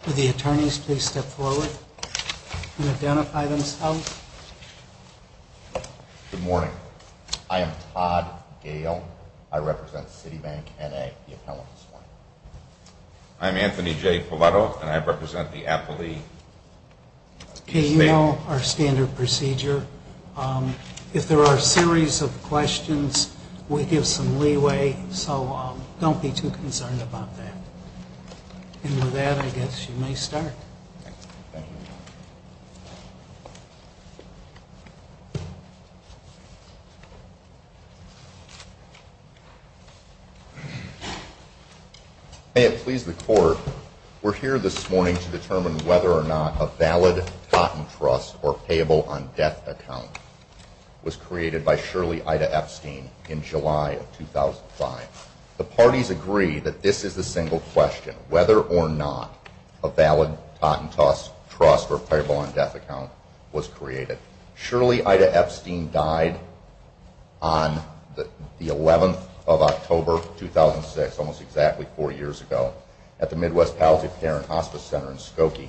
For the attorneys, please step forward and identify themselves. Good morning. I am Todd Gale. I represent Citibank, N.A., the appellant this morning. I'm Anthony J. Pallotto, and I represent the appellee. Okay, you know our standard procedure. If there are a series of questions, we give some leeway, so don't be too concerned about that. And with that, I guess you may start. Thank you. May it please the Court, we're here this morning to determine whether or not a valid Totten Trust or payable on death account was created by Shirley Ida Epstein in July of 2005. The parties agree that this is the single question, whether or not a valid Totten Trust or payable on death account was created. Shirley Ida Epstein died on the 11th of October, 2006, almost exactly four years ago, at the Midwest Palisades Parent Hospice Center in Skokie.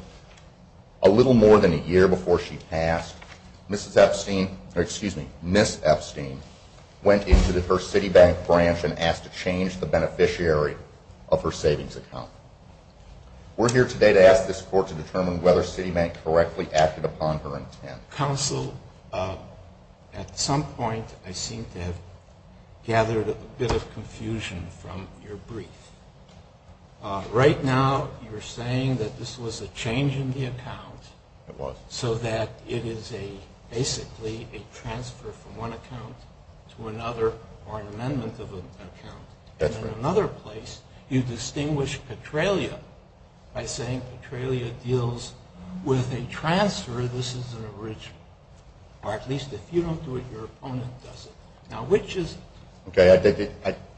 A little more than a year before she passed, Ms. Epstein went into her Citibank branch and asked to change the beneficiary of her savings account. We're here today to ask this Court to determine whether Citibank correctly acted upon her intent. Counsel, at some point I seem to have gathered a bit of confusion from your brief. Right now, you're saying that this was a change in the account so that it is basically a transfer from one account to another or an amendment of an account. In another place, you distinguish Petralia by saying Petralia deals with a transfer, this is an original. Or at least if you don't do it, your opponent does it. Now, which is it?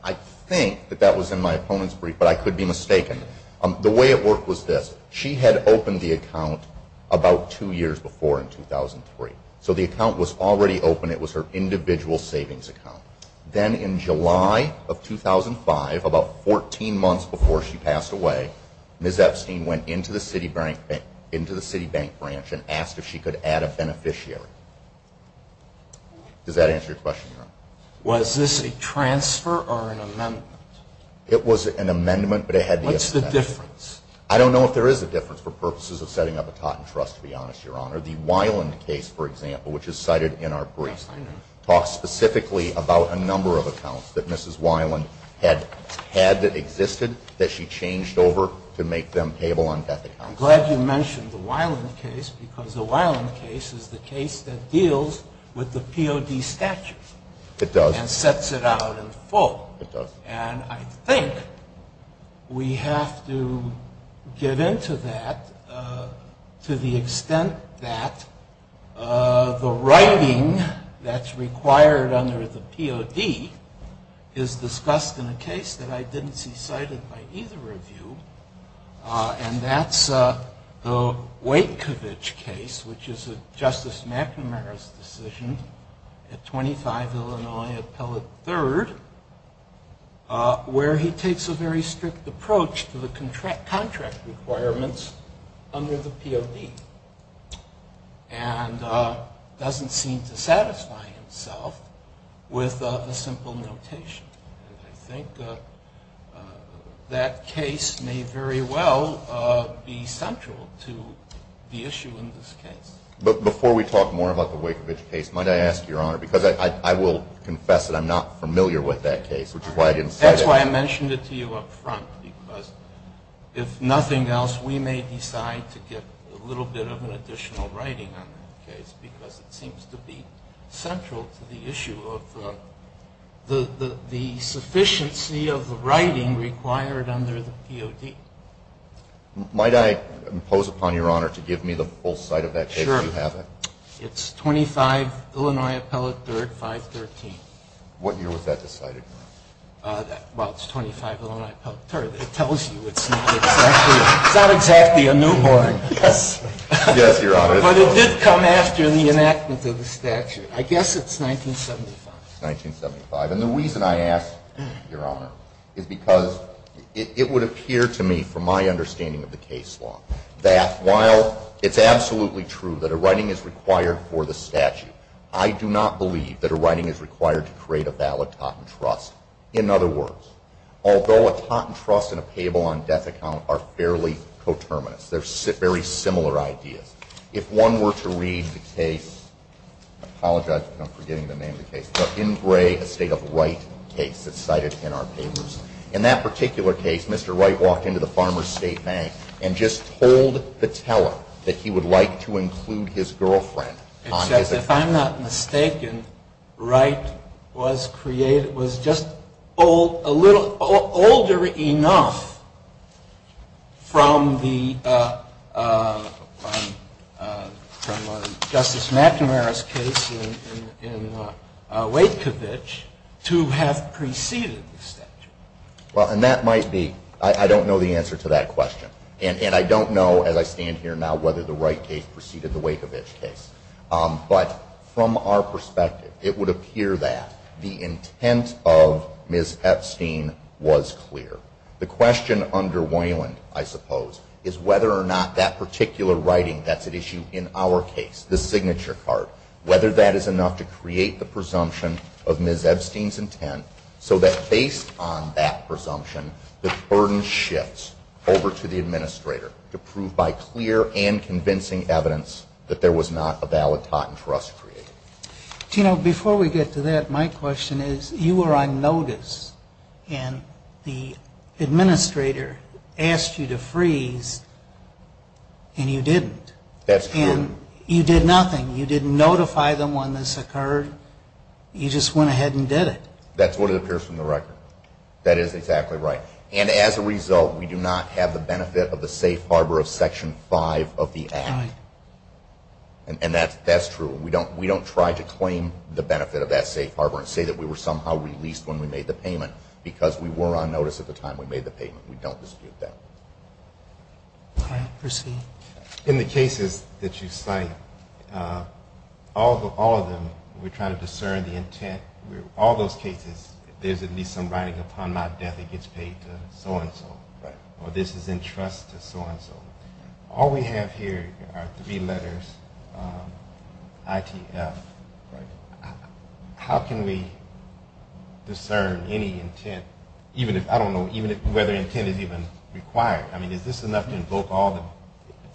I think that that was in my opponent's brief, but I could be mistaken. The way it worked was this. She had opened the account about two years before in 2003. So the account was already open, it was her individual savings account. Then in July of 2005, about 14 months before she passed away, Ms. Epstein went into the Citibank branch and asked if she could add a beneficiary. Does that answer your question, Your Honor? Was this a transfer or an amendment? It was an amendment, but it had to be a transfer. What's the difference? I don't know if there is a difference for purposes of setting up a Totten Trust, to be honest, Your Honor. The Weiland case, for example, which is cited in our brief, talks specifically about a number of accounts that Mrs. Weiland had that existed that she changed over to make them payable on death accounts. I'm glad you mentioned the Weiland case because the Weiland case is the case that deals with the POD statute. It does. And sets it out in full. It does. And I think we have to get into that to the extent that the writing that's required under the POD is discussed in a case that I didn't see cited by either of you. And that's the Wakevich case, which is a Justice McNamara's decision at 25 Illinois Appellate 3rd, where he takes a very strict approach to the contract requirements under the POD. And doesn't seem to satisfy himself with a simple notation. And I think that case may very well be central to the issue in this case. But before we talk more about the Wakevich case, might I ask, Your Honor, because I will confess that I'm not familiar with that case, which is why I didn't cite it. That's why I mentioned it to you up front, because if nothing else, we may decide to get a little bit of an additional writing on that case because it seems to be central to the issue of the sufficiency of the writing required under the POD. Might I impose upon Your Honor to give me the full cite of that case, if you have it? Sure. It's 25 Illinois Appellate 3rd, 513. What year was that decided? Well, it's 25 Illinois Appellate 3rd. It tells you it's not exactly a newborn. Yes. Yes, Your Honor. But it did come after the enactment of the statute. I guess it's 1975. It's 1975. And the reason I ask, Your Honor, is because it would appear to me, from my understanding of the case law, that while it's absolutely true that a writing is required for the statute, I do not believe that a writing is required to create a valid Totten Trust. In other words, although a Totten Trust and a payable on death account are fairly coterminous, they're very similar ideas, if one were to read the case, I apologize, I'm forgetting the name of the case, but in gray, a state-of-the-right case that's cited in our papers. In that particular case, Mr. Wright walked into the Farmer's State Bank and just told the teller that he would like to include his girlfriend on his account. And if I'm not mistaken, Wright was just a little older enough from Justice McNamara's case in Wakevich to have preceded the statute. Well, and that might be, I don't know the answer to that question. And I don't know, as I stand here now, whether the Wright case preceded the Wakevich case. But from our perspective, it would appear that the intent of Ms. Epstein was clear. The question under Weyland, I suppose, is whether or not that particular writing, that's an issue in our case, the signature card, whether that is enough to create the presumption of Ms. Epstein's intent so that based on that presumption, the burden shifts over to the administrator to prove by clear and convincing evidence that there was not a valid patent for us to create. Do you know, before we get to that, my question is, you were on notice and the administrator asked you to freeze and you didn't. That's true. And you did nothing. You didn't notify them when this occurred. You just went ahead and did it. That's what it appears from the record. That is exactly right. And as a result, we do not have the benefit of the safe harbor of Section 5 of the Act. And that's true. We don't try to claim the benefit of that safe harbor and say that we were somehow released when we made the payment because we were on notice at the time we made the payment. We don't dispute that. All right. Proceed. In the cases that you cite, all of them, we're trying to discern the intent. All those cases, there's at least some writing upon my death that gets paid to so-and-so. Right. Or this is in trust to so-and-so. All we have here are three letters, ITF. Right. How can we discern any intent, even if, I don't know, whether intent is even required? I mean, is this enough to invoke all the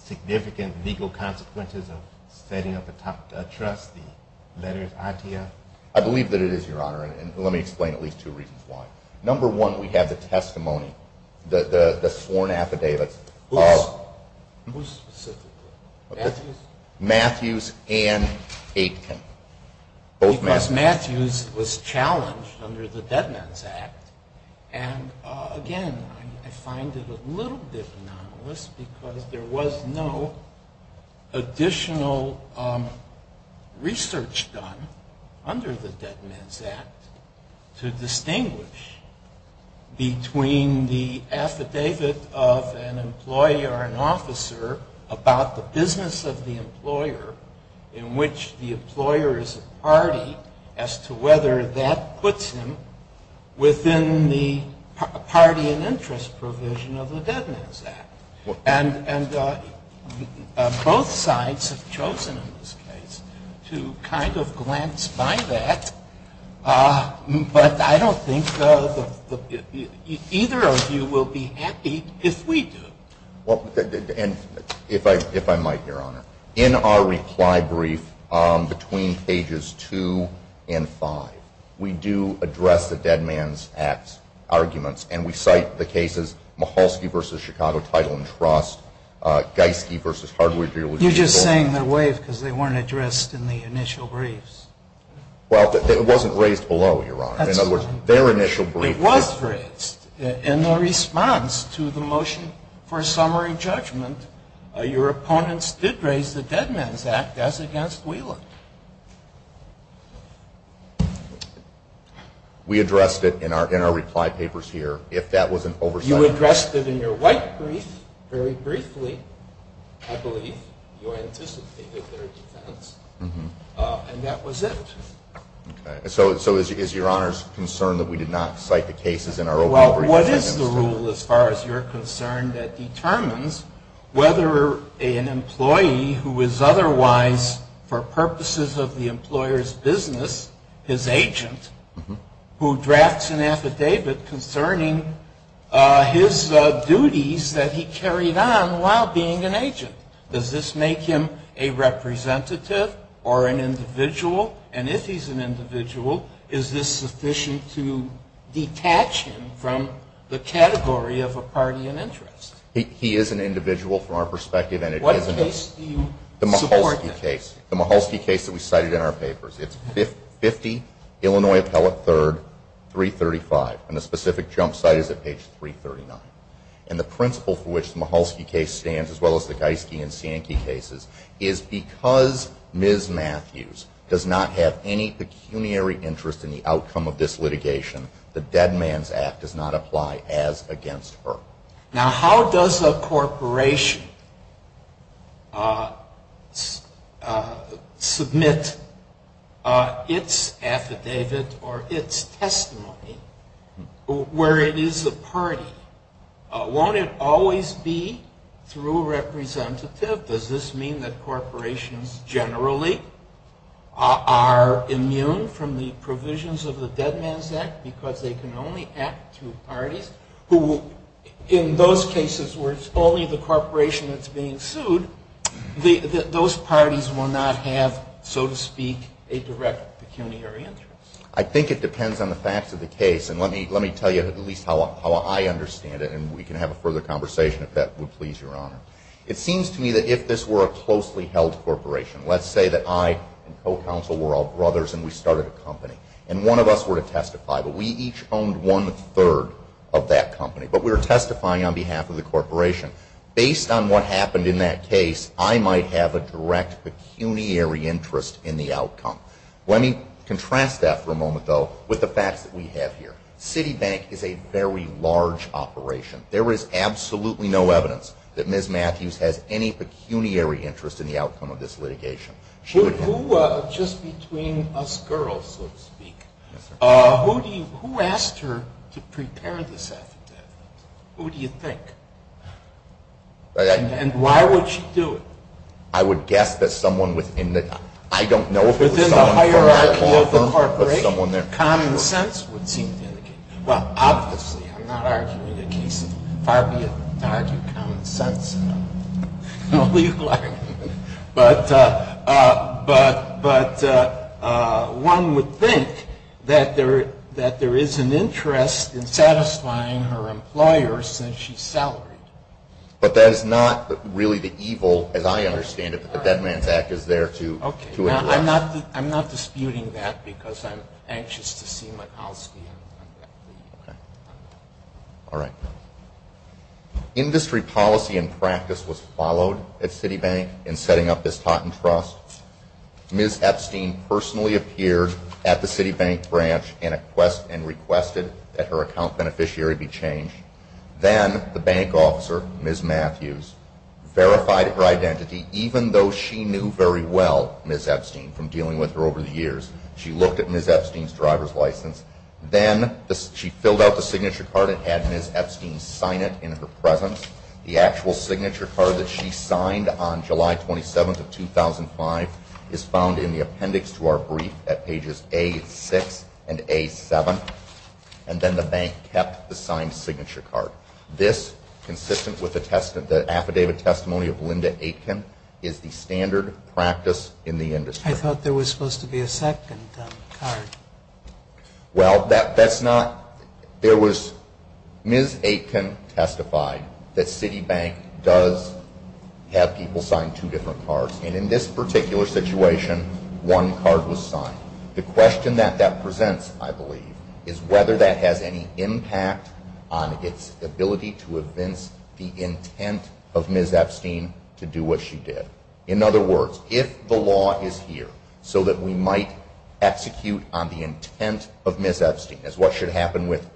significant legal consequences of setting up a trust, the letters ITF? I believe that it is, Your Honor, and let me explain at least two reasons why. Number one, we have the testimony, the sworn affidavits. Who specifically? Matthews and Aitken. Because Matthews was challenged under the Dead Man's Act. And, again, I find it a little bit anomalous because there was no additional research done under the Dead Man's Act to distinguish between the affidavit of an employee or an officer about the business of the employer in which the employer is a party as to whether that puts him within the party and interest provision of the Dead Man's Act. And both sides have chosen in this case to kind of glance by that. But I don't think either of you will be happy if we do. Well, and if I might, Your Honor, in our reply brief between pages two and five, we do address the Dead Man's Act arguments, and we cite the cases Maholsky v. Chicago Title and Trust, Geiske v. Hardwood Rehabilitation Board. You're just saying they're waived because they weren't addressed in the initial briefs. Well, it wasn't raised below, Your Honor. That's fine. It was raised in the response to the motion for summary judgment. Your opponents did raise the Dead Man's Act as against Wheelan. We addressed it in our reply papers here. If that was an oversight. You addressed it in your white brief very briefly, I believe. You anticipated their defense. And that was it. Okay. So is Your Honor's concern that we did not cite the cases in our open overview? Well, what is the rule, as far as you're concerned, that determines whether an employee who is otherwise, for purposes of the employer's business, his agent, who drafts an affidavit concerning his duties that he carried on while being an agent? Does this make him a representative or an individual? And if he's an individual, is this sufficient to detach him from the category of a party in interest? He is an individual from our perspective, and it is an individual. What case do you support? The Mahulski case. The Mahulski case that we cited in our papers. It's 50 Illinois Appellate 3rd, 335. And the specific jump site is at page 339. And the principle for which the Mahulski case stands, as well as the Geiske and Sienke cases, is because Ms. Matthews does not have any pecuniary interest in the outcome of this litigation, the Dead Man's Act does not apply as against her. Now, how does a corporation submit its affidavit or its testimony where it is a party? Won't it always be through a representative? Does this mean that corporations generally are immune from the provisions of the Dead Man's Act because they can only act to parties who, in those cases where it's only the corporation that's being sued, those parties will not have, so to speak, a direct pecuniary interest? I think it depends on the facts of the case. And let me tell you at least how I understand it, and we can have a further conversation if that would please Your Honor. It seems to me that if this were a closely held corporation, let's say that I and co-counsel were all brothers and we started a company, and one of us were to testify, but we each owned one-third of that company, but we were testifying on behalf of the corporation. Based on what happened in that case, I might have a direct pecuniary interest in the outcome. Let me contrast that for a moment, though, with the facts that we have here. Citibank is a very large operation. There is absolutely no evidence that Ms. Matthews has any pecuniary interest in the outcome of this litigation. Just between us girls, so to speak, who asked her to prepare this affidavit? Who do you think? And why would she do it? I would guess that someone within the hierarchy of the corporation, common sense would seem to indicate. Well, obviously, I'm not arguing a case of far-be-it to argue common sense. I'll leave it like that. But one would think that there is an interest in satisfying her employer since she's salaried. But that is not really the evil, as I understand it, that the Dead Man's Act is there to address. I'm not disputing that because I'm anxious to see Mikulski. Okay. All right. Industry policy and practice was followed at Citibank in setting up this Taunton Trust. Ms. Epstein personally appeared at the Citibank branch and requested that her account beneficiary be changed. Then the bank officer, Ms. Matthews, verified her identity, even though she knew very well Ms. Epstein from dealing with her over the years. She looked at Ms. Epstein's driver's license. Then she filled out the signature card and had Ms. Epstein sign it in her presence. The actual signature card that she signed on July 27th of 2005 is found in the appendix to our brief at pages A6 and A7. And then the bank kept the signed signature card. This, consistent with the affidavit testimony of Linda Aitken, is the standard practice in the industry. I thought there was supposed to be a second card. Well, that's not. There was. Ms. Aitken testified that Citibank does have people sign two different cards. And in this particular situation, one card was signed. The question that that presents, I believe, is whether that has any impact on its ability to evince the intent of Ms. Epstein to do what she did. In other words, if the law is here so that we might execute on the intent of Ms. Epstein, as what should happen with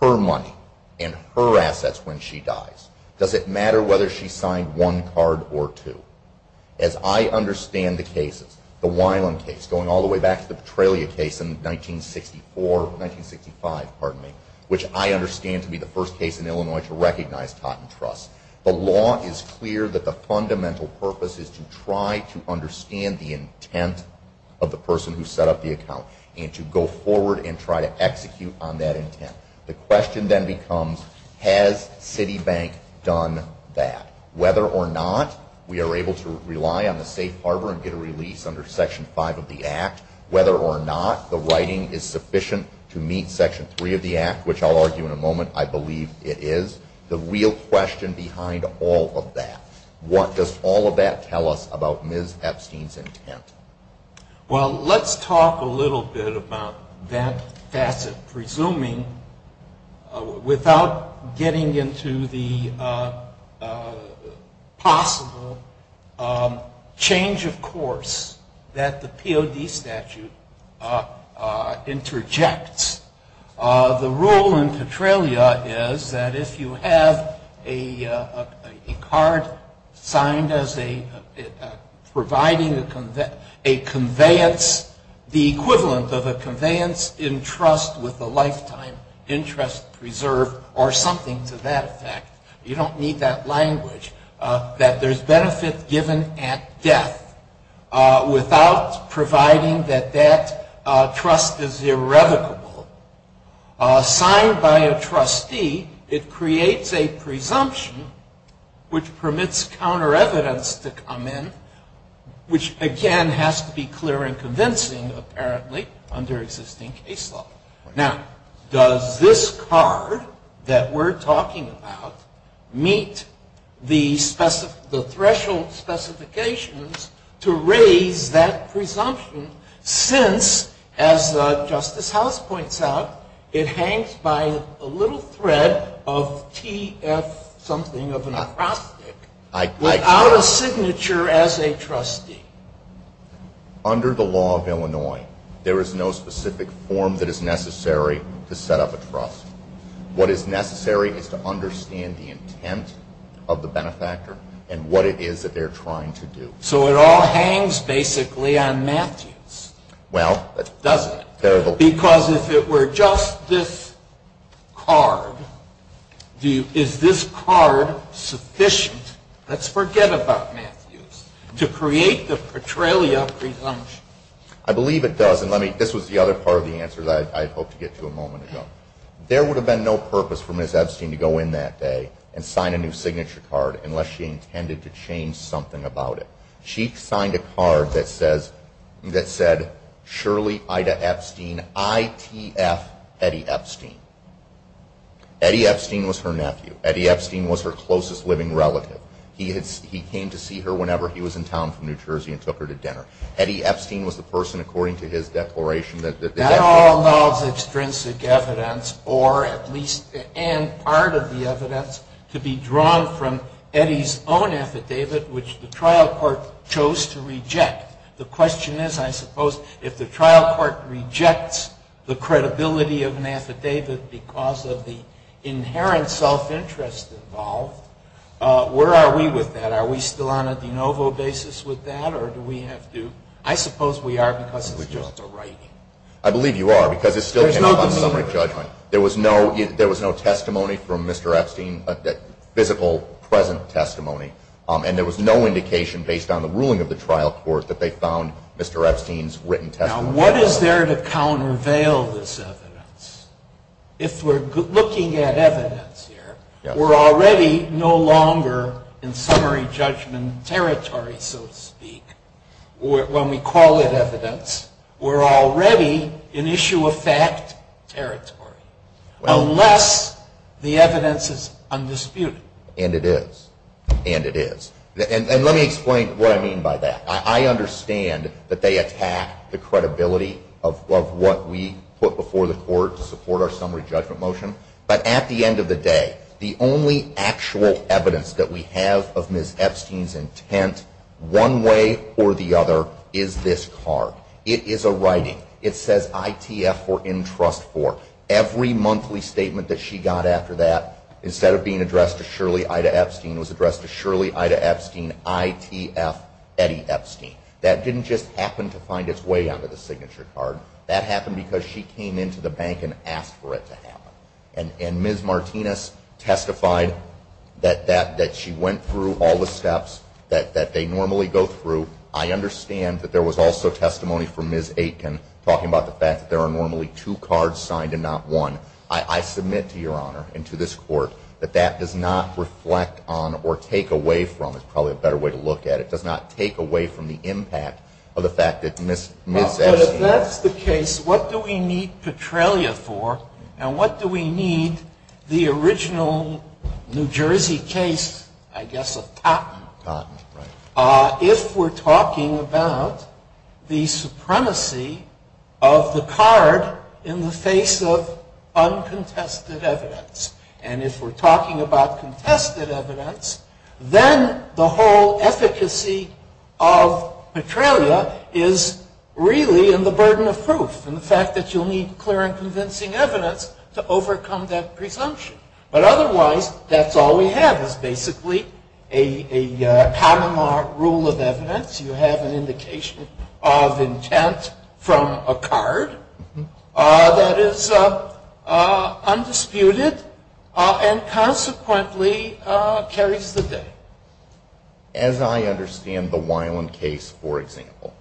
her money and her assets when she dies, does it matter whether she signed one card or two? As I understand the cases, the Weiland case going all the way back to the Petralia case in 1964, 1965, pardon me, which I understand to be the first case in Illinois to recognize Totten Trust, the law is clear that the fundamental purpose is to try to understand the intent of the person who set up the account and to go forward and try to execute on that intent. The question then becomes, has Citibank done that? Whether or not we are able to rely on the safe harbor and get a release under Section 5 of the Act, whether or not the writing is sufficient to meet Section 3 of the Act, which I'll argue in a moment I believe it is, the real question behind all of that. What does all of that tell us about Ms. Epstein's intent? Well, let's talk a little bit about that facet, presuming without getting into the possible change of course that the POD statute interjects. The rule in Petralia is that if you have a card signed as providing a conveyance, the equivalent of a conveyance in trust with a lifetime interest preserved or something to that effect, you don't need that language, that there's benefit given at death without providing that that trust is irrevocable. Signed by a trustee, it creates a presumption which permits counter evidence to come in, which again has to be clear and convincing apparently under existing case law. Now, does this card that we're talking about meet the threshold specifications to raise that presumption since as Justice House points out, it hangs by a little thread of T.F. something of an acrostic, without a signature as a trustee. Under the law of Illinois, there is no specific form that is necessary to set up a trust. What is necessary is to understand the intent of the benefactor and what it is that they're trying to do. So it all hangs basically on Matthews, doesn't it? Because if it were just this card, is this card sufficient? Let's forget about Matthews. To create the Petralia presumption. I believe it does, and this was the other part of the answer that I hoped to get to a moment ago. There would have been no purpose for Ms. Epstein to go in that day and sign a new signature card unless she intended to change something about it. She signed a card that said, Shirley Ida Epstein, I.T.F. Eddie Epstein. Eddie Epstein was her nephew. Eddie Epstein was her closest living relative. He came to see her whenever he was in town from New Jersey and took her to dinner. Eddie Epstein was the person, according to his declaration, that they had to have. That all involves extrinsic evidence, or at least part of the evidence, to be drawn from Eddie's own affidavit, which the trial court chose to reject. The question is, I suppose, if the trial court rejects the credibility of an affidavit because of the inherent self-interest involved, where are we with that? Are we still on a de novo basis with that, or do we have to? I suppose we are, because it's just a writing. I believe you are, because it's still based on summary judgment. There was no testimony from Mr. Epstein, physical present testimony, and there was no indication based on the ruling of the trial court that they found Mr. Epstein's written testimony. Now, what is there to countervail this evidence? If we're looking at evidence here, we're already no longer in summary judgment territory, so to speak. When we call it evidence, we're already in issue of fact territory, unless the evidence is undisputed. And it is. And it is. And let me explain what I mean by that. I understand that they attack the credibility of what we put before the court to support our summary judgment motion. But at the end of the day, the only actual evidence that we have of Ms. Epstein's intent, one way or the other, is this card. It is a writing. It says ITF for Entrust For. Every monthly statement that she got after that, instead of being addressed to Shirley Ida Epstein, was addressed to Shirley Ida Epstein ITF Eddie Epstein. That didn't just happen to find its way onto the signature card. That happened because she came into the bank and asked for it to happen. And Ms. Martinez testified that she went through all the steps that they normally go through. I understand that there was also testimony from Ms. Aitken talking about the fact that there are normally two cards signed and not one. I submit to Your Honor and to this Court that that does not reflect on or take away from, it's probably a better way to look at it, it does not take away from the impact of the fact that Ms. Epstein. But if that's the case, what do we need Petrelia for? And what do we need the original New Jersey case, I guess, of Totten? Totten, right. If we're talking about the supremacy of the card in the face of uncontested evidence, and if we're talking about contested evidence, then the whole efficacy of Petrelia is really in the burden of proof and the fact that you'll need clear and convincing evidence to overcome that presumption. But otherwise, that's all we have is basically a Panama rule of evidence. You have an indication of intent from a card that is undisputed and consequently carries the day. As I understand the Weiland case, for example,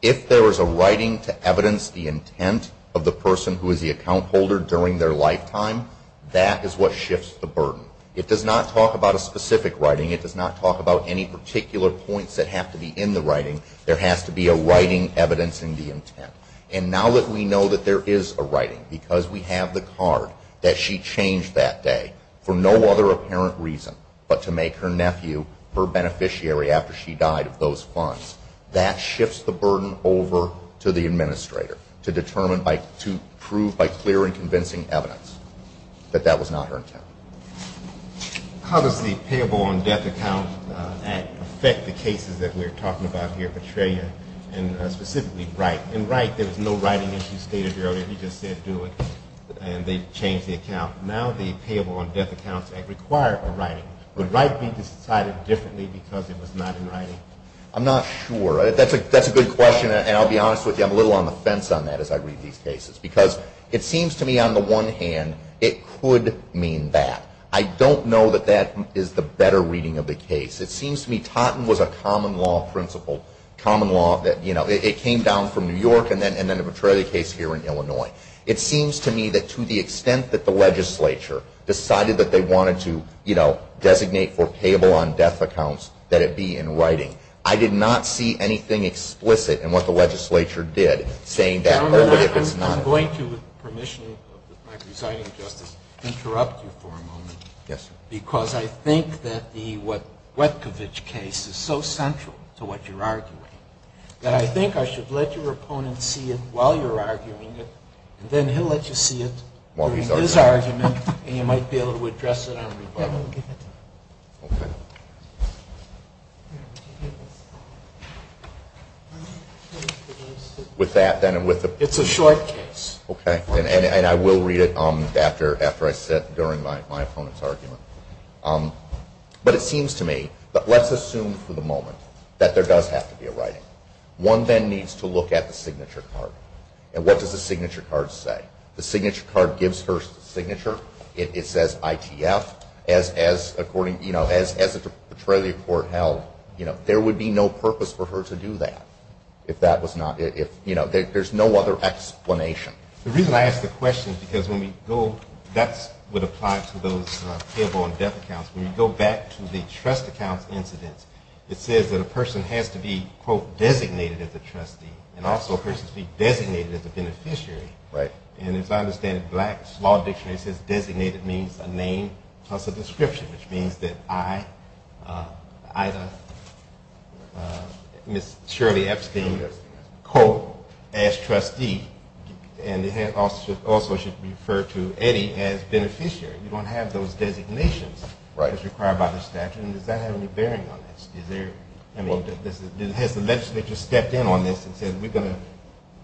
if there is a writing to evidence the intent of the person who is the account holder during their lifetime, that is what shifts the burden. It does not talk about a specific writing. It does not talk about any particular points that have to be in the writing. There has to be a writing evidencing the intent. And now that we know that there is a writing because we have the card that she changed that day for no other apparent reason but to make her nephew her beneficiary after she died of those funds, that shifts the burden over to the administrator to prove by clear and convincing evidence that that was not her intent. How does the Payable on Death Account Act affect the cases that we're talking about here, Petrelia, and specifically Wright? In Wright, there was no writing issue stated earlier. He just said do it, and they changed the account. Now the Payable on Death Accounts Act requires a writing. Would Wright be decided differently because it was not in writing? I'm not sure. That's a good question, and I'll be honest with you, I'm a little on the fence on that as I read these cases because it seems to me on the one hand it could mean that. I don't know that that is the better reading of the case. It seems to me Totten was a common law principle. It came down from New York and then the Petrelia case here in Illinois. It seems to me that to the extent that the legislature decided that they wanted to, you know, I did not see anything explicit in what the legislature did saying that only if it's not. Your Honor, I'm going to, with permission of my presiding justice, interrupt you for a moment. Yes, sir. Because I think that the Wetkovich case is so central to what you're arguing that I think I should let your opponent see it while you're arguing it, and then he'll let you see it during his argument and you might be able to address it on rebuttal. Okay. Okay. With that then and with the- It's a short case. Okay. And I will read it after I sit during my opponent's argument. But it seems to me, let's assume for the moment that there does have to be a writing. One then needs to look at the signature card. And what does the signature card say? The signature card gives her signature. It says ITF. As a portrayal of the court held, you know, there would be no purpose for her to do that if that was not- you know, there's no other explanation. The reason I ask the question is because when we go- that's what applied to those payable in-depth accounts. When you go back to the trust accounts incidents, it says that a person has to be, quote, designated as a trustee and also a person has to be designated as a beneficiary. Right. And as I understand it, Black's Law Dictionary says designated means a name plus a description, which means that I, Ida, Ms. Shirley Epstein, quote, as trustee. And it also should refer to Eddie as beneficiary. You don't have those designations as required by the statute. And does that have any bearing on this? Is there- I mean, has the legislature stepped in on this and said, we're going to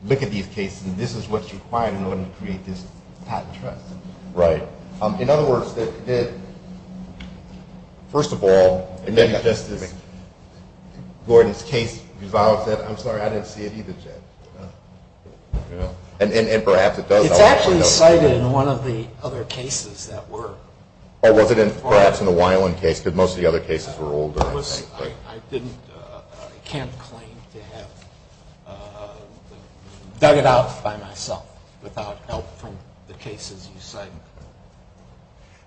look at these cases and this is what's required in order to create this patent trust? Right. In other words, first of all, maybe Justice Gordon's case revolves that. I'm sorry, I didn't see it either, Jay. And perhaps it does. It's actually cited in one of the other cases that were. Oh, was it perhaps in the Weiland case? Because most of the other cases were older. I can't claim to have dug it out by myself without help from the cases you cited.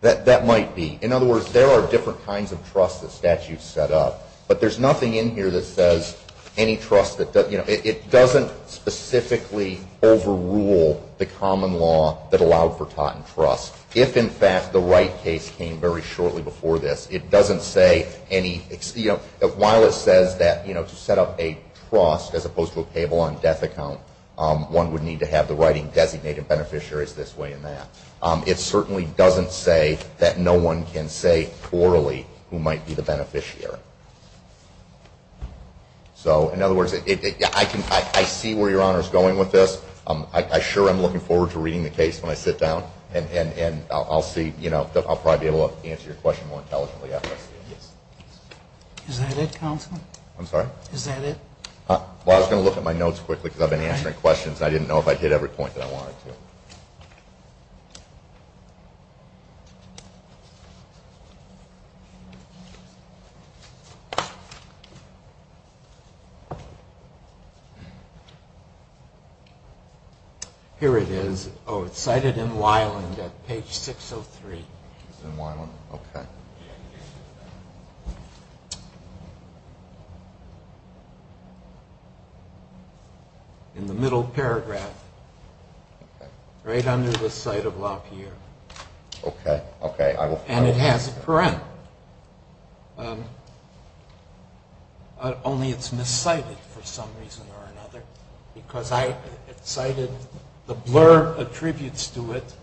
That might be. In other words, there are different kinds of trusts that statutes set up, but there's nothing in here that says any trust that doesn't- it doesn't specifically overrule the common law that allowed for patent trust. If, in fact, the Wright case came very shortly before this, it doesn't say any- while it says that to set up a trust as opposed to a payable on death account, one would need to have the writing designated beneficiaries this way and that. It certainly doesn't say that no one can say orally who might be the beneficiary. So, in other words, I see where Your Honor is going with this. I sure am looking forward to reading the case when I sit down, and I'll see, you know, I'll probably be able to answer your question more intelligently after I see it. Is that it, counsel? I'm sorry? Is that it? Well, I was going to look at my notes quickly because I've been answering questions and I didn't know if I'd hit every point that I wanted to. Here it is. Oh, it's cited in Weiland at page 603. It's in Weiland? Okay. In the middle paragraph, right under the site of La Pierre. Okay, okay. And it has a parent. Only it's miscited for some reason or another because I cited the blur of tributes to it,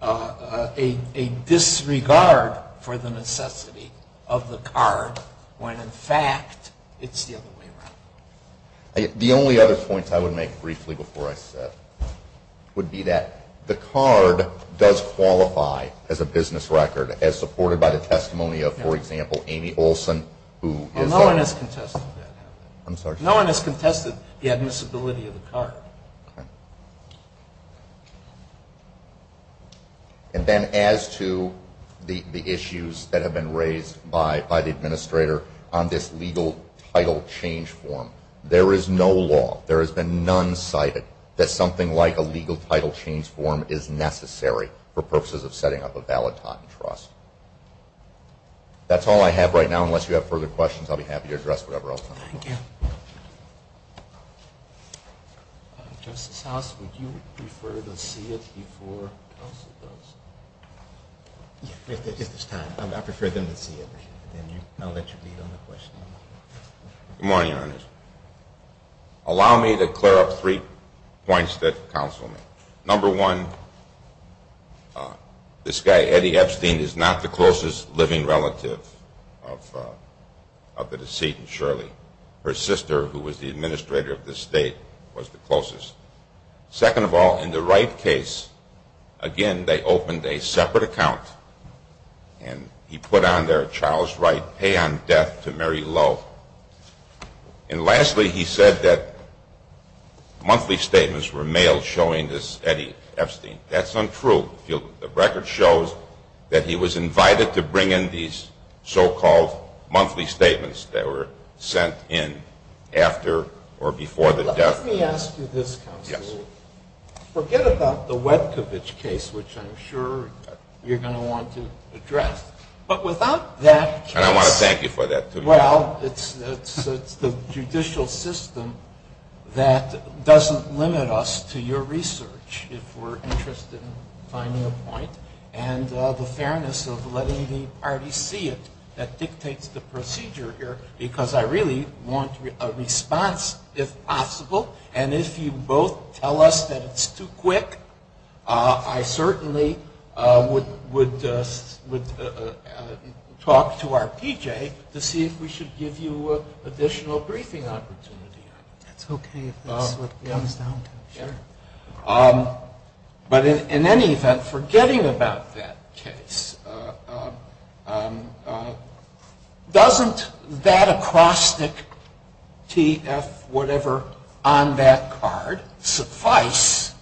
a disregard for the necessity of the card when, in fact, it's the other way around. The only other point I would make briefly before I sit would be that the card does qualify as a business record as supported by the testimony of, for example, Amy Olson, who is the... Well, no one has contested that. I'm sorry? No one has contested the admissibility of the card. Okay. And then as to the issues that have been raised by the administrator on this legal title change form, there is no law, there has been none cited, that something like a legal title change form is necessary for purposes of setting up a valid patent trust. That's all I have right now. Unless you have further questions, I'll be happy to address whatever else I have. Thank you. Justice House, would you prefer to see it before counsel does? If there's time. I prefer them to see it. I'll let you lead on the question. Good morning, Your Honor. Allow me to clear up three points that counsel may. Number one, this guy, Eddie Epstein, is not the closest living relative of the decedent, Shirley. Her sister, who was the administrator of this state, was the closest. Second of all, in the Wright case, again, they opened a separate account, and he put on there, Charles Wright, pay on death to Mary Lowe. And lastly, he said that monthly statements were mailed showing this Eddie Epstein. That's untrue. The record shows that he was invited to bring in these so-called monthly statements that were sent in after or before the death. Yes. Forget about the Webkovich case, which I'm sure you're going to want to address. But without that case. And I want to thank you for that, too. Well, it's the judicial system that doesn't limit us to your research, if we're interested in finding a point, and the fairness of letting the parties see it that dictates the procedure here, because I really want a response, if possible. And if you both tell us that it's too quick, I certainly would talk to our P.J. to see if we should give you additional briefing opportunity. That's okay if that's what it comes down to. Sure. But in any event, forgetting about that case, doesn't that acrostic TF whatever on that card suffice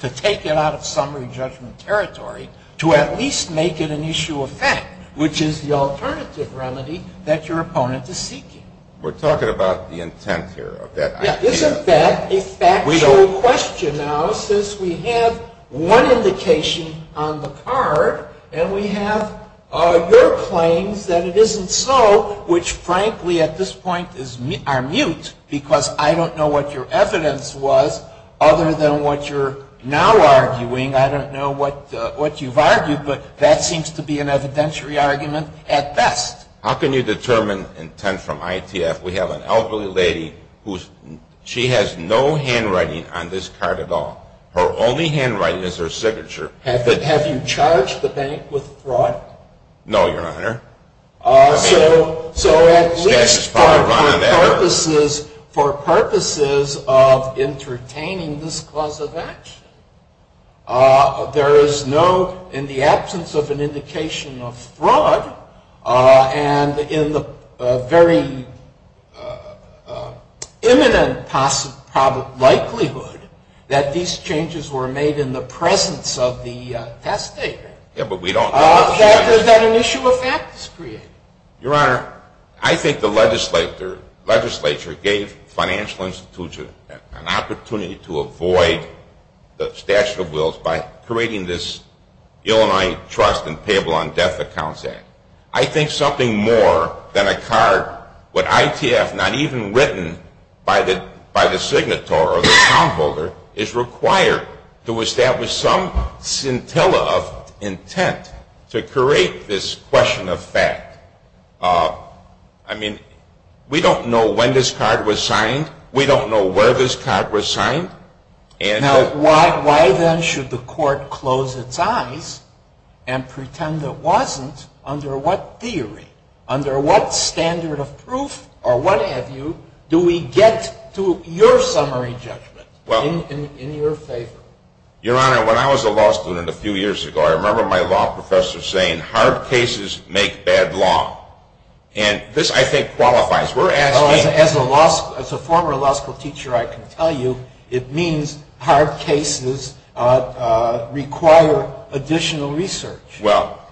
to take it out of summary judgment territory to at least make it an issue of fact, which is the alternative remedy that your opponent is seeking? We're talking about the intent here of that idea. Isn't that a factual question now since we have one indication on the card, and we have your claims that it isn't so, which frankly at this point are mute because I don't know what your evidence was other than what you're now arguing. I don't know what you've argued, but that seems to be an evidentiary argument at best. How can you determine intent from ITF? We have an elderly lady who she has no handwriting on this card at all. Her only handwriting is her signature. Have you charged the bank with fraud? No, Your Honor. So at least for purposes of entertaining this cause of action, there is no, in the absence of an indication of fraud, and in the very imminent likelihood that these changes were made in the presence of the testator, that an issue of fact is created. Your Honor, I think the legislature gave financial institutions an opportunity to avoid the statute of wills by creating this Illinois Trust and Payable on Death Accounts Act. I think something more than a card with ITF not even written by the signator or the account holder is required to establish some scintilla of intent to create this question of fact. I mean, we don't know when this card was signed. We don't know where this card was signed. Now, why then should the court close its eyes and pretend it wasn't? Under what theory, under what standard of proof or what have you, do we get to your summary judgment in your favor? Your Honor, when I was a law student a few years ago, I remember my law professor saying, hard cases make bad law. And this, I think, qualifies. As a former law school teacher, I can tell you it means hard cases require additional research. Well,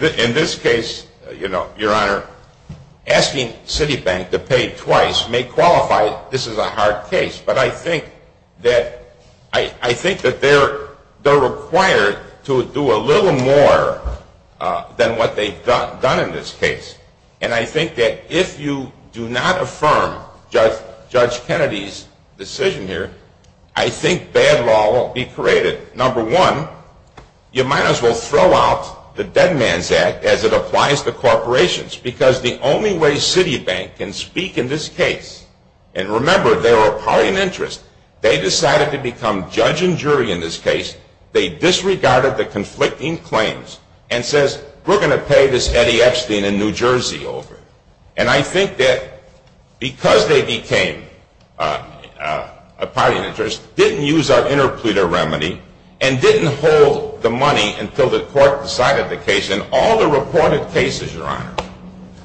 in this case, your Honor, asking Citibank to pay twice may qualify this is a hard case. But I think that they're required to do a little more than what they've done in this case. And I think that if you do not affirm Judge Kennedy's decision here, I think bad law will be created. Number one, you might as well throw out the Dead Man's Act as it applies to corporations because the only way Citibank can speak in this case, and remember, they were a party in interest. They decided to become judge and jury in this case. They disregarded the conflicting claims and says, we're going to pay this Eddie Epstein in New Jersey over. And I think that because they became a party in interest, didn't use our interpleader remedy and didn't hold the money until the court decided the case. In all the reported cases, your Honor,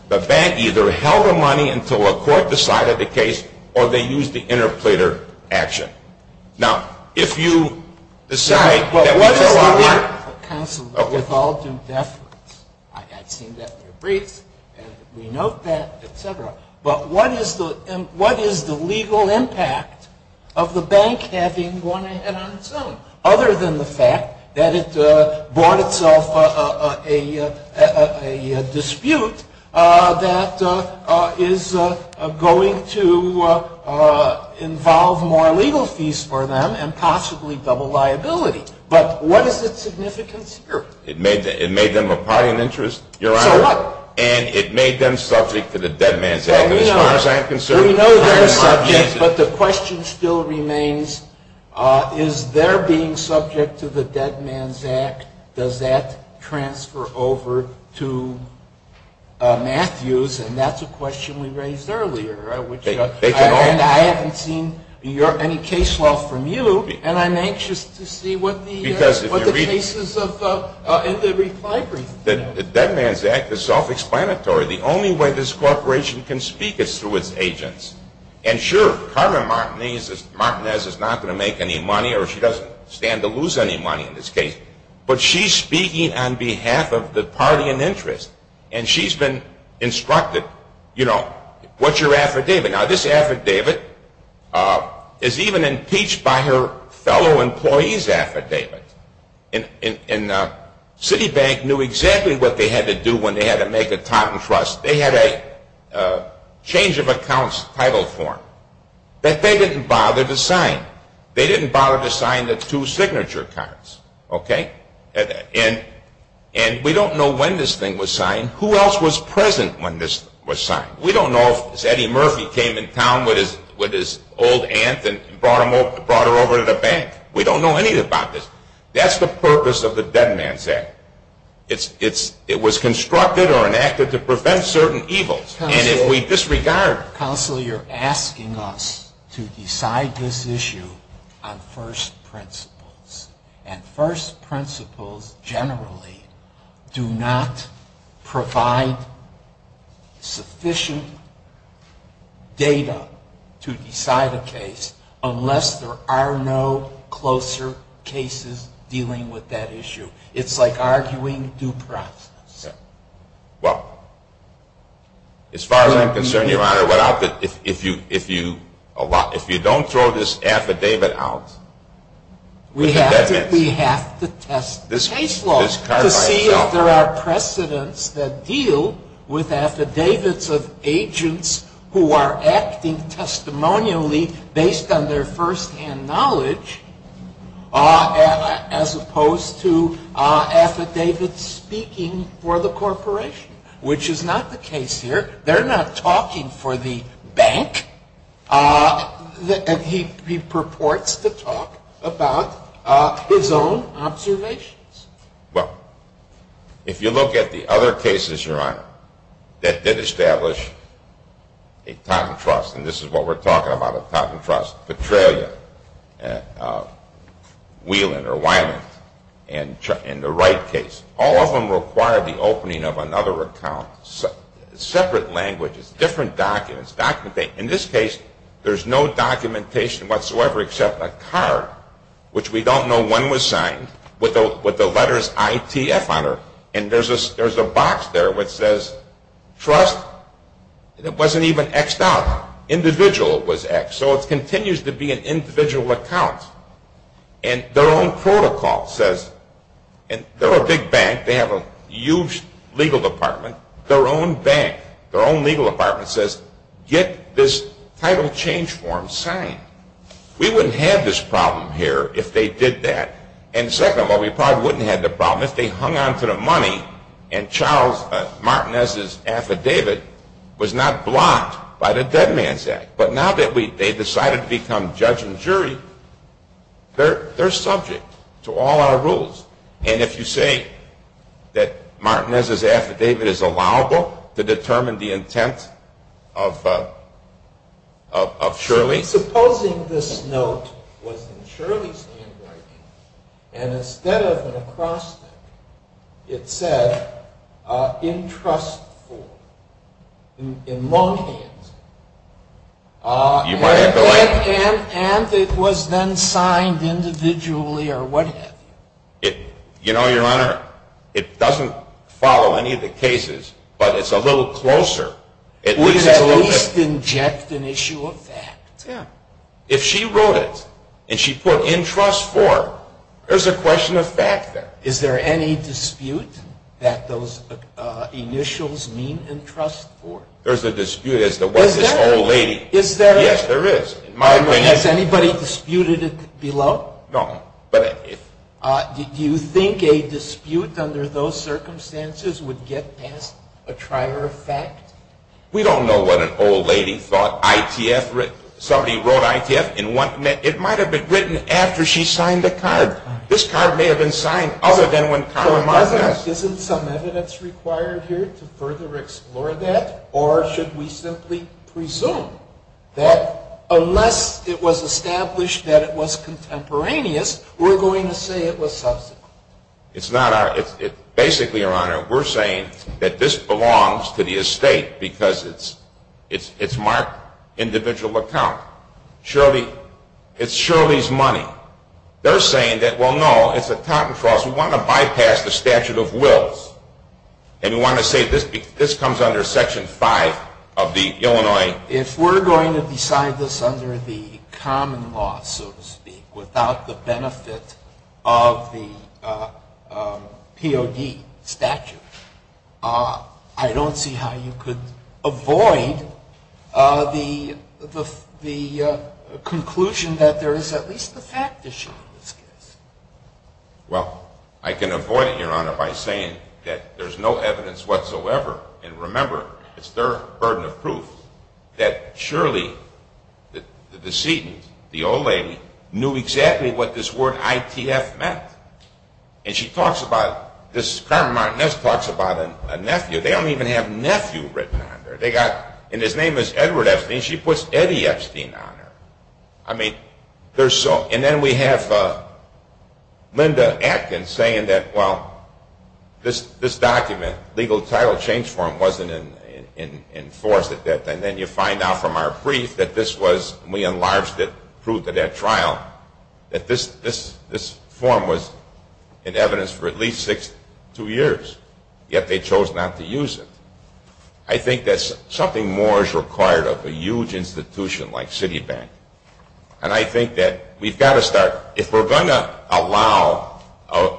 the bank either held the money until a court decided the case or they used the interpleader action. Now, if you assume that we just don't want to. What is the legal impact of the bank having won ahead on its own, other than the fact that it bought itself a dispute that is going to involve more legal fees for them and possibly double liability? But what is its significance here? It made them a party in interest, your Honor. So what? And it made them subject to the Dead Man's Act as far as I'm concerned. We know they're subject, but the question still remains, is their being subject to the Dead Man's Act, does that transfer over to Matthews? And that's a question we raised earlier. And I haven't seen any case law from you, and I'm anxious to see what the cases in the reply brief. The Dead Man's Act is self-explanatory. The only way this corporation can speak is through its agents. And sure, Carmen Martinez is not going to make any money, or she doesn't stand to lose any money in this case, but she's speaking on behalf of the party in interest. And she's been instructed, you know, what's your affidavit? Now, this affidavit is even impeached by her fellow employees' affidavit. And Citibank knew exactly what they had to do when they had to make a patent trust. They had a change-of-accounts title form that they didn't bother to sign. They didn't bother to sign the two signature cards, okay? And we don't know when this thing was signed. Who else was present when this was signed? We don't know if Eddie Murphy came in town with his old aunt and brought her over to the bank. We don't know anything about this. That's the purpose of the Dead Man's Act. It was constructed or enacted to prevent certain evils. And if we disregard it... Counselor, you're asking us to decide this issue on first principles. And first principles generally do not provide sufficient data to decide a case unless there are no closer cases dealing with that issue. It's like arguing due process. Well, as far as I'm concerned, Your Honor, if you don't throw this affidavit out... We have to test the case law to see if there are precedents that deal with affidavits of agents who are acting testimonially based on their firsthand knowledge as opposed to affidavits speaking for the corporation, which is not the case here. They're not talking for the bank, and he purports to talk about his own observations. Well, if you look at the other cases, Your Honor, that did establish a patent trust, and this is what we're talking about, a patent trust, Petralia, Whelan or Wyman, and the Wright case, all of them require the opening of another account, separate languages, different documents. In this case, there's no documentation whatsoever except a card, which we don't know when it was signed, with the letters ITF on it, and there's a box there that says trust. It wasn't even Xed out. Individual was Xed, so it continues to be an individual account. And their own protocol says, and they're a big bank, they have a huge legal department, their own bank, their own legal department says get this title change form signed. We wouldn't have this problem here if they did that. And second of all, we probably wouldn't have the problem if they hung on to the money and Martinez's affidavit was not blocked by the Dead Man's Act. But now that they've decided to become judge and jury, they're subject to all our rules. And if you say that Martinez's affidavit is allowable to determine the intent of Shirley's... And it was then signed individually or what have you. You know, Your Honor, it doesn't follow any of the cases, but it's a little closer. At least inject an issue of fact. If she wrote it and she put in trust for, there's a question of fact there. Is there any dispute that those initials mean in trust for? There's a dispute as to what this old lady... Is there? Yes, there is. Has anybody disputed it below? No. Do you think a dispute under those circumstances would get past a trier of fact? We don't know what an old lady thought ITF... Somebody wrote ITF and it might have been written after she signed the card. This card may have been signed other than when Conner Martinez... Isn't some evidence required here to further explore that? Or should we simply presume that unless it was established that it was contemporaneous, we're going to say it was subsequent? It's not our... Basically, Your Honor, we're saying that this belongs to the estate because it's marked individual account. Shirley... It's Shirley's money. They're saying that, well, no, it's a totentrust. We want to bypass the statute of wills. And we want to say this comes under Section 5 of the Illinois... If we're going to decide this under the common law, so to speak, without the benefit of the POD statute, I don't see how you could avoid the conclusion that there is at least a fact issue in this case. Well, I can avoid it, Your Honor, by saying that there's no evidence whatsoever. And remember, it's their burden of proof that Shirley, the decedent, the old lady, knew exactly what this word ITF meant. And she talks about... This Carmen Martinez talks about a nephew. They don't even have nephew written on there. They got... And his name is Edward Epstein. She puts Eddie Epstein on there. I mean, they're so... And then we have Linda Atkins saying that, well, this document, legal title change form, wasn't enforced. And then you find out from our brief that this was... in evidence for at least six, two years, yet they chose not to use it. I think that something more is required of a huge institution like Citibank. And I think that we've got to start... If we're going to allow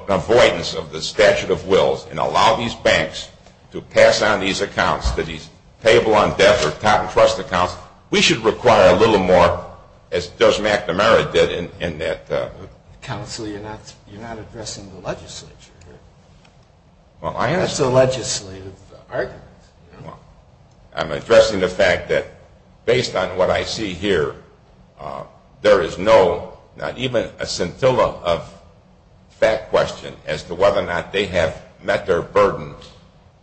avoidance of the statute of wills and allow these banks to pass on these accounts to these payable on death or top-trust accounts, we should require a little more, as Judge McNamara did in that... Counsel, you're not addressing the legislature here. That's a legislative argument. I'm addressing the fact that, based on what I see here, there is no, not even a scintilla of fact question as to whether or not they have met their burden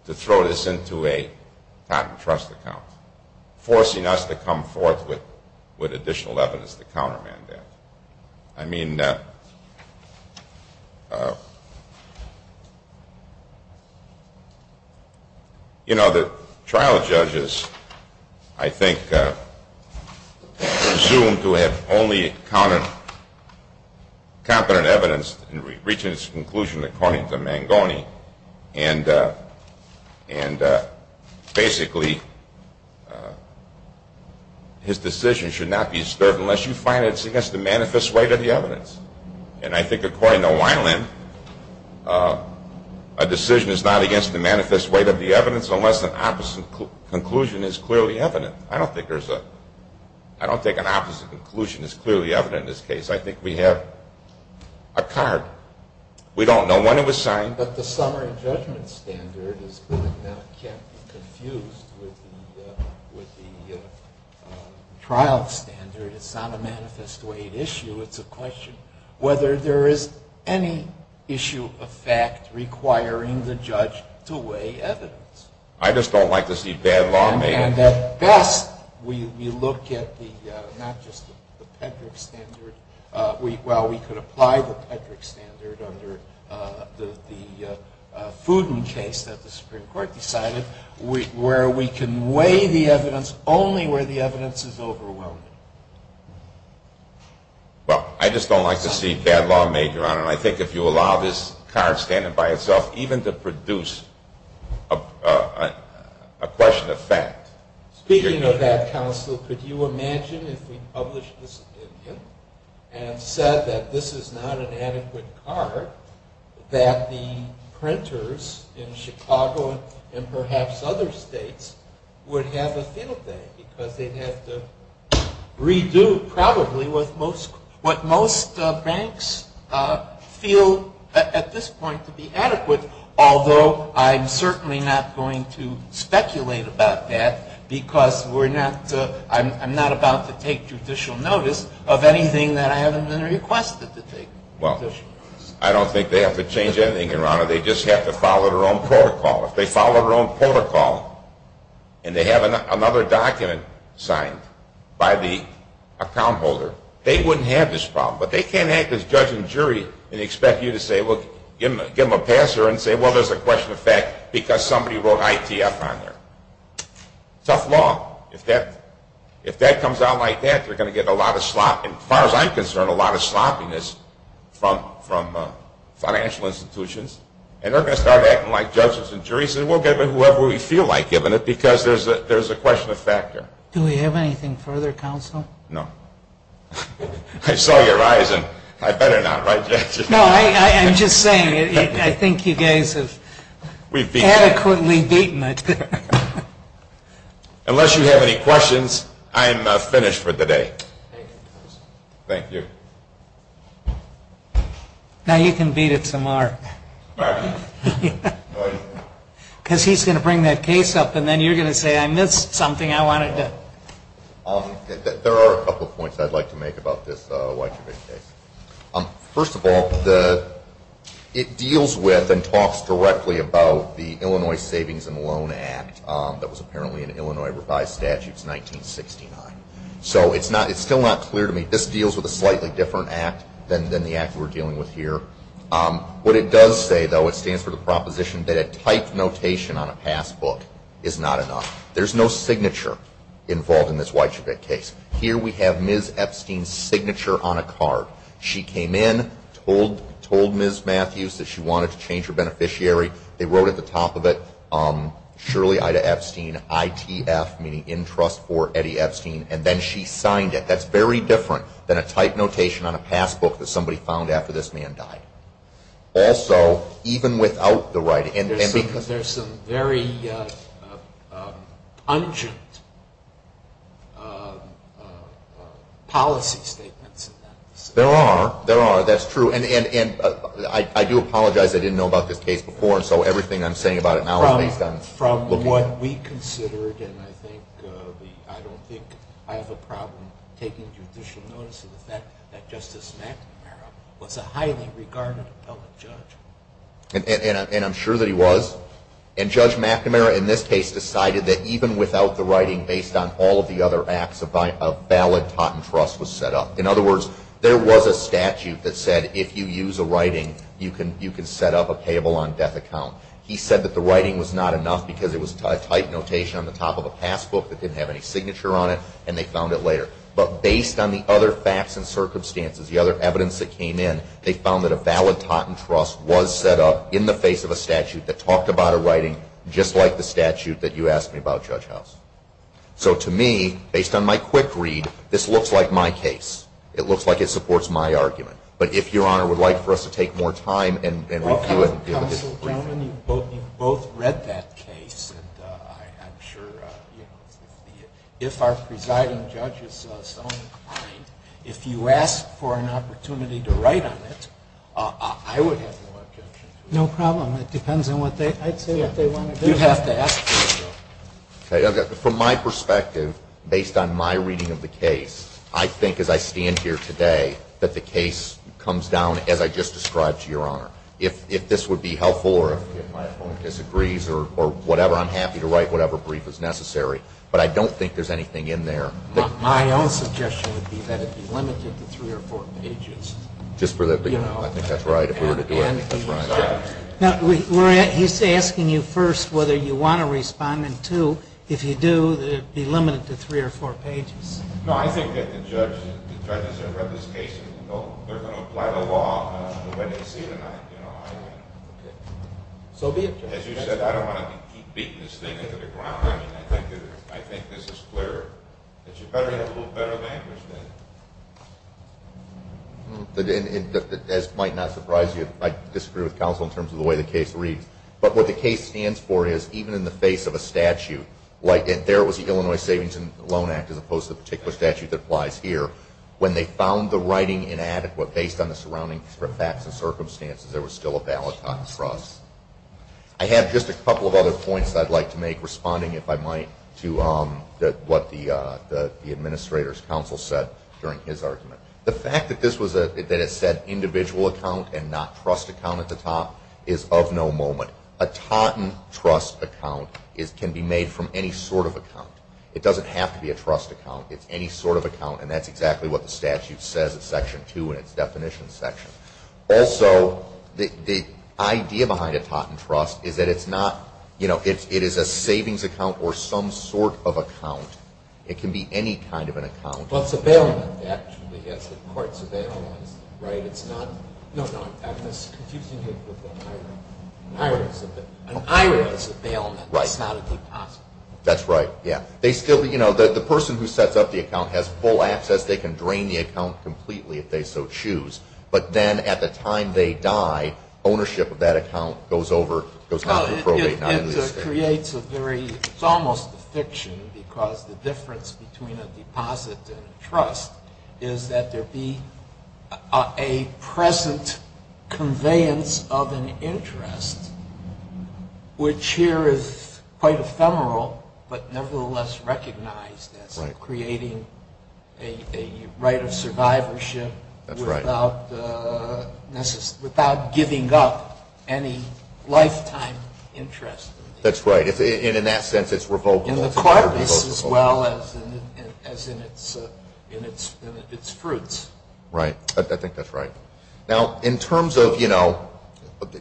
to throw this into a top-trust account, forcing us to come forth with additional evidence to countermand that. I mean... You know, the trial judges, I think, are presumed to have only competent evidence in reaching its conclusion according to Mangoni. And, basically, his decision should not be disturbed unless you find it's against the manifest weight of the evidence. And I think, according to Weiland, a decision is not against the manifest weight of the evidence unless an opposite conclusion is clearly evident. I don't think there's a... I don't think an opposite conclusion is clearly evident in this case. I think we have a card. We don't know when it was signed. But the summary judgment standard can't be confused with the trial standard. It's not a manifest weight issue. It's a question whether there is any issue of fact requiring the judge to weigh evidence. I just don't like to see bad law made up. And at best, we look at the... not just the Pedrick standard. Well, we could apply the Pedrick standard under the Fudin case that the Supreme Court decided, where we can weigh the evidence only where the evidence is overwhelming. Well, I just don't like to see bad law made, Your Honor. And I think if you allow this card standing by itself even to produce a question of fact... Speaking of that, Counsel, could you imagine if we published this opinion and said that this is not an adequate card, that the printers in Chicago and perhaps other states would have a fiddle day because they'd have to redo probably what most banks feel at this point to be adequate, although I'm certainly not going to speculate about that because I'm not about to take judicial notice of anything that I haven't been requested to take judicial notice. Well, I don't think they have to change anything, Your Honor. They just have to follow their own protocol. If they follow their own protocol and they have another document signed by the account holder, they wouldn't have this problem. But they can't act as judge and jury and expect you to say, well, give them a pass here and say, well, there's a question of fact because somebody wrote ITF on there. Tough law. If that comes out like that, they're going to get a lot of slop, and as far as I'm concerned, a lot of sloppiness from financial institutions. And they're going to start acting like judges and juries and we'll give it to whoever we feel like giving it because there's a question of factor. Do we have anything further, counsel? No. I saw your eyes and I better not, right, Judge? No, I'm just saying I think you guys have adequately beaten it. Unless you have any questions, I'm finished for the day. Thank you. Thank you. Now you can beat it to Mark. Because he's going to bring that case up and then you're going to say I missed something I wanted to. There are a couple of points I'd like to make about this White Tribune case. First of all, it deals with and talks directly about the Illinois Savings and Loan Act that was apparently in Illinois revised statutes 1969. So it's still not clear to me. This deals with a slightly different act than the act we're dealing with here. What it does say, though, it stands for the proposition that a typed notation on a passbook is not enough. There's no signature involved in this White Tribune case. Here we have Ms. Epstein's signature on a card. She came in, told Ms. Matthews that she wanted to change her beneficiary. They wrote at the top of it, Shirley Ida Epstein, ITF, meaning in trust for Eddie Epstein, and then she signed it. That's very different than a typed notation on a passbook that somebody found after this man died. Also, even without the writing. There's some very pungent policy statements in that. There are. There are. That's true. I do apologize. I didn't know about this case before, and so everything I'm saying about it now is based on the case. From what we considered, and I don't think I have a problem taking judicial notice of the fact that Justice McNamara was a highly regarded appellate judge. And I'm sure that he was. And Judge McNamara, in this case, decided that even without the writing, based on all of the other acts, a valid patent trust was set up. In other words, there was a statute that said if you use a writing, you can set up a payable on death account. He said that the writing was not enough because it was a typed notation on the top of a passbook that didn't have any signature on it, and they found it later. But based on the other facts and circumstances, the other evidence that came in, they found that a valid patent trust was set up in the face of a statute that talked about a writing just like the statute that you asked me about, Judge House. So to me, based on my quick read, this looks like my case. It looks like it supports my argument. But if Your Honor would like for us to take more time and review it. Counsel, gentlemen, you both read that case, and I'm sure, you know, if our presiding judge is so inclined, if you ask for an opportunity to write on it, I would have no objection to it. No problem. It depends on what they – I'd say what they want to do. You have to ask for it, though. Okay. From my perspective, based on my reading of the case, I think as I stand here today that the case comes down as I just described to Your Honor. If this would be helpful or if my opponent disagrees or whatever, I'm happy to write whatever brief is necessary. But I don't think there's anything in there. My own suggestion would be that it be limited to three or four pages. Just for the – I think that's right. If we were to do it, I think that's right. He's asking you first whether you want to respond, and, two, if you do, that it be limited to three or four pages. No, I think that the judges that have read this case know they're going to apply the law for what they see tonight. So be it. As you said, I don't want to keep beating this thing into the ground. I mean, I think this is clear that you better have a little better of an interest in it. This might not surprise you. I disagree with counsel in terms of the way the case reads. But what the case stands for is even in the face of a statute, like there was the Illinois Savings and Loan Act as opposed to the particular statute that applies here, when they found the writing inadequate based on the surrounding facts and circumstances, there was still a ballot box for us. I have just a couple of other points I'd like to make responding, if I might, to what the administrator's counsel said during his argument. The fact that it said individual account and not trust account at the top is of no moment. A Taunton trust account can be made from any sort of account. It doesn't have to be a trust account. It's any sort of account, and that's exactly what the statute says in Section 2 in its definition section. Also, the idea behind a Taunton trust is that it's not, you know, it is a savings account or some sort of account. It can be any kind of an account. Well, it's a bailment, actually, yes, the court's a bailment, right? It's not, no, no, I'm just confusing it with an IRA. An IRA is a bailment. It's not a deposit. That's right, yeah. They still, you know, the person who sets up the account has full access. They can drain the account completely if they so choose. But then at the time they die, ownership of that account goes over, goes down to probate. It creates a very, it's almost a fiction because the difference between a deposit and a trust is that there be a present conveyance of an interest, which here is quite ephemeral but nevertheless recognized as creating a right of survivorship. That's right. Without giving up any lifetime interest. That's right, and in that sense it's revocable. And the card is as well as in its fruits. Right, I think that's right. Now, in terms of, you know,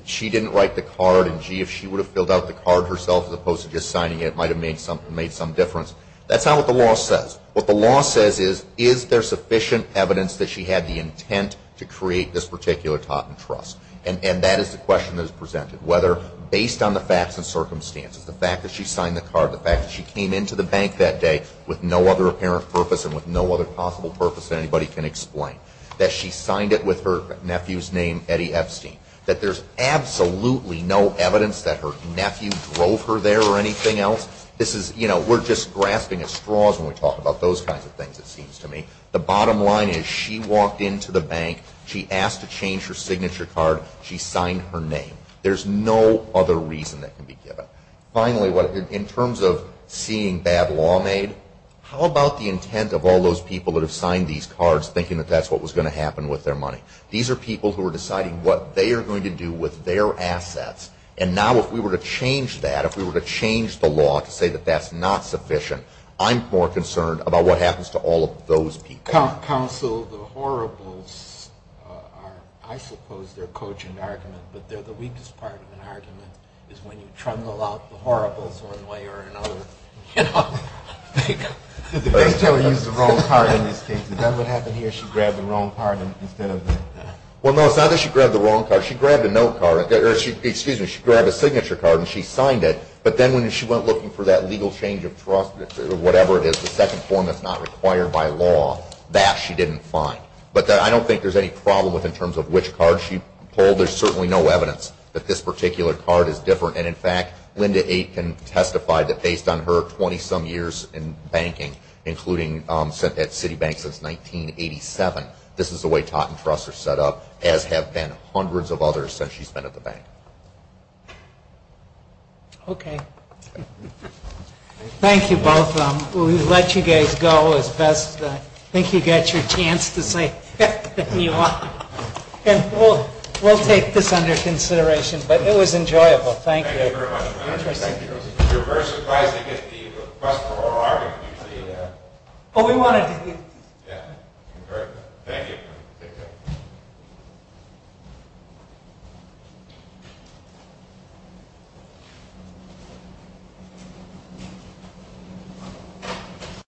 she didn't write the card, and gee, if she would have filled out the card herself as opposed to just signing it, it might have made some difference. That's not what the law says. What the law says is, is there sufficient evidence that she had the intent to create this particular tot and trust? And that is the question that is presented, whether based on the facts and circumstances, the fact that she signed the card, the fact that she came into the bank that day with no other apparent purpose and with no other possible purpose that anybody can explain. That she signed it with her nephew's name, Eddie Epstein. That there's absolutely no evidence that her nephew drove her there or anything else. This is, you know, we're just grasping at straws when we talk about those kinds of things, it seems to me. The bottom line is she walked into the bank, she asked to change her signature card, she signed her name. There's no other reason that can be given. Finally, in terms of seeing bad law made, how about the intent of all those people that have signed these cards thinking that that's what was going to happen with their money? These are people who are deciding what they are going to do with their assets, and now if we were to change that, if we were to change the law to say that that's not sufficient, I'm more concerned about what happens to all of those people. Counsel, the horribles, I suppose they're a cogent argument, but they're the weakest part of an argument is when you trundle out the horribles one way or another. Did the bank tell her to use the wrong card in this case? Is that what happened here, she grabbed the wrong card instead of the... Well, no, it's not that she grabbed the wrong card, she grabbed a note card, or excuse me, she grabbed a signature card and she signed it, but then when she went looking for that legal change of trust or whatever it is, the second form that's not required by law, that she didn't find. But I don't think there's any problem in terms of which card she pulled. There's certainly no evidence that this particular card is different, and in fact, Linda Aitken testified that based on her 20-some years in banking, including at Citibank since 1987, this is the way taught and trusts are set up, as have been hundreds of others since she's been at the bank. Okay. Thank you both. We'll let you guys go as best I think you got your chance to say. And we'll take this under consideration, but it was enjoyable. Thank you. Thank you very much. We're very surprised to get the request for oral argument. Oh, we wanted to hear. Yeah. Thank you. Take care. Thank you.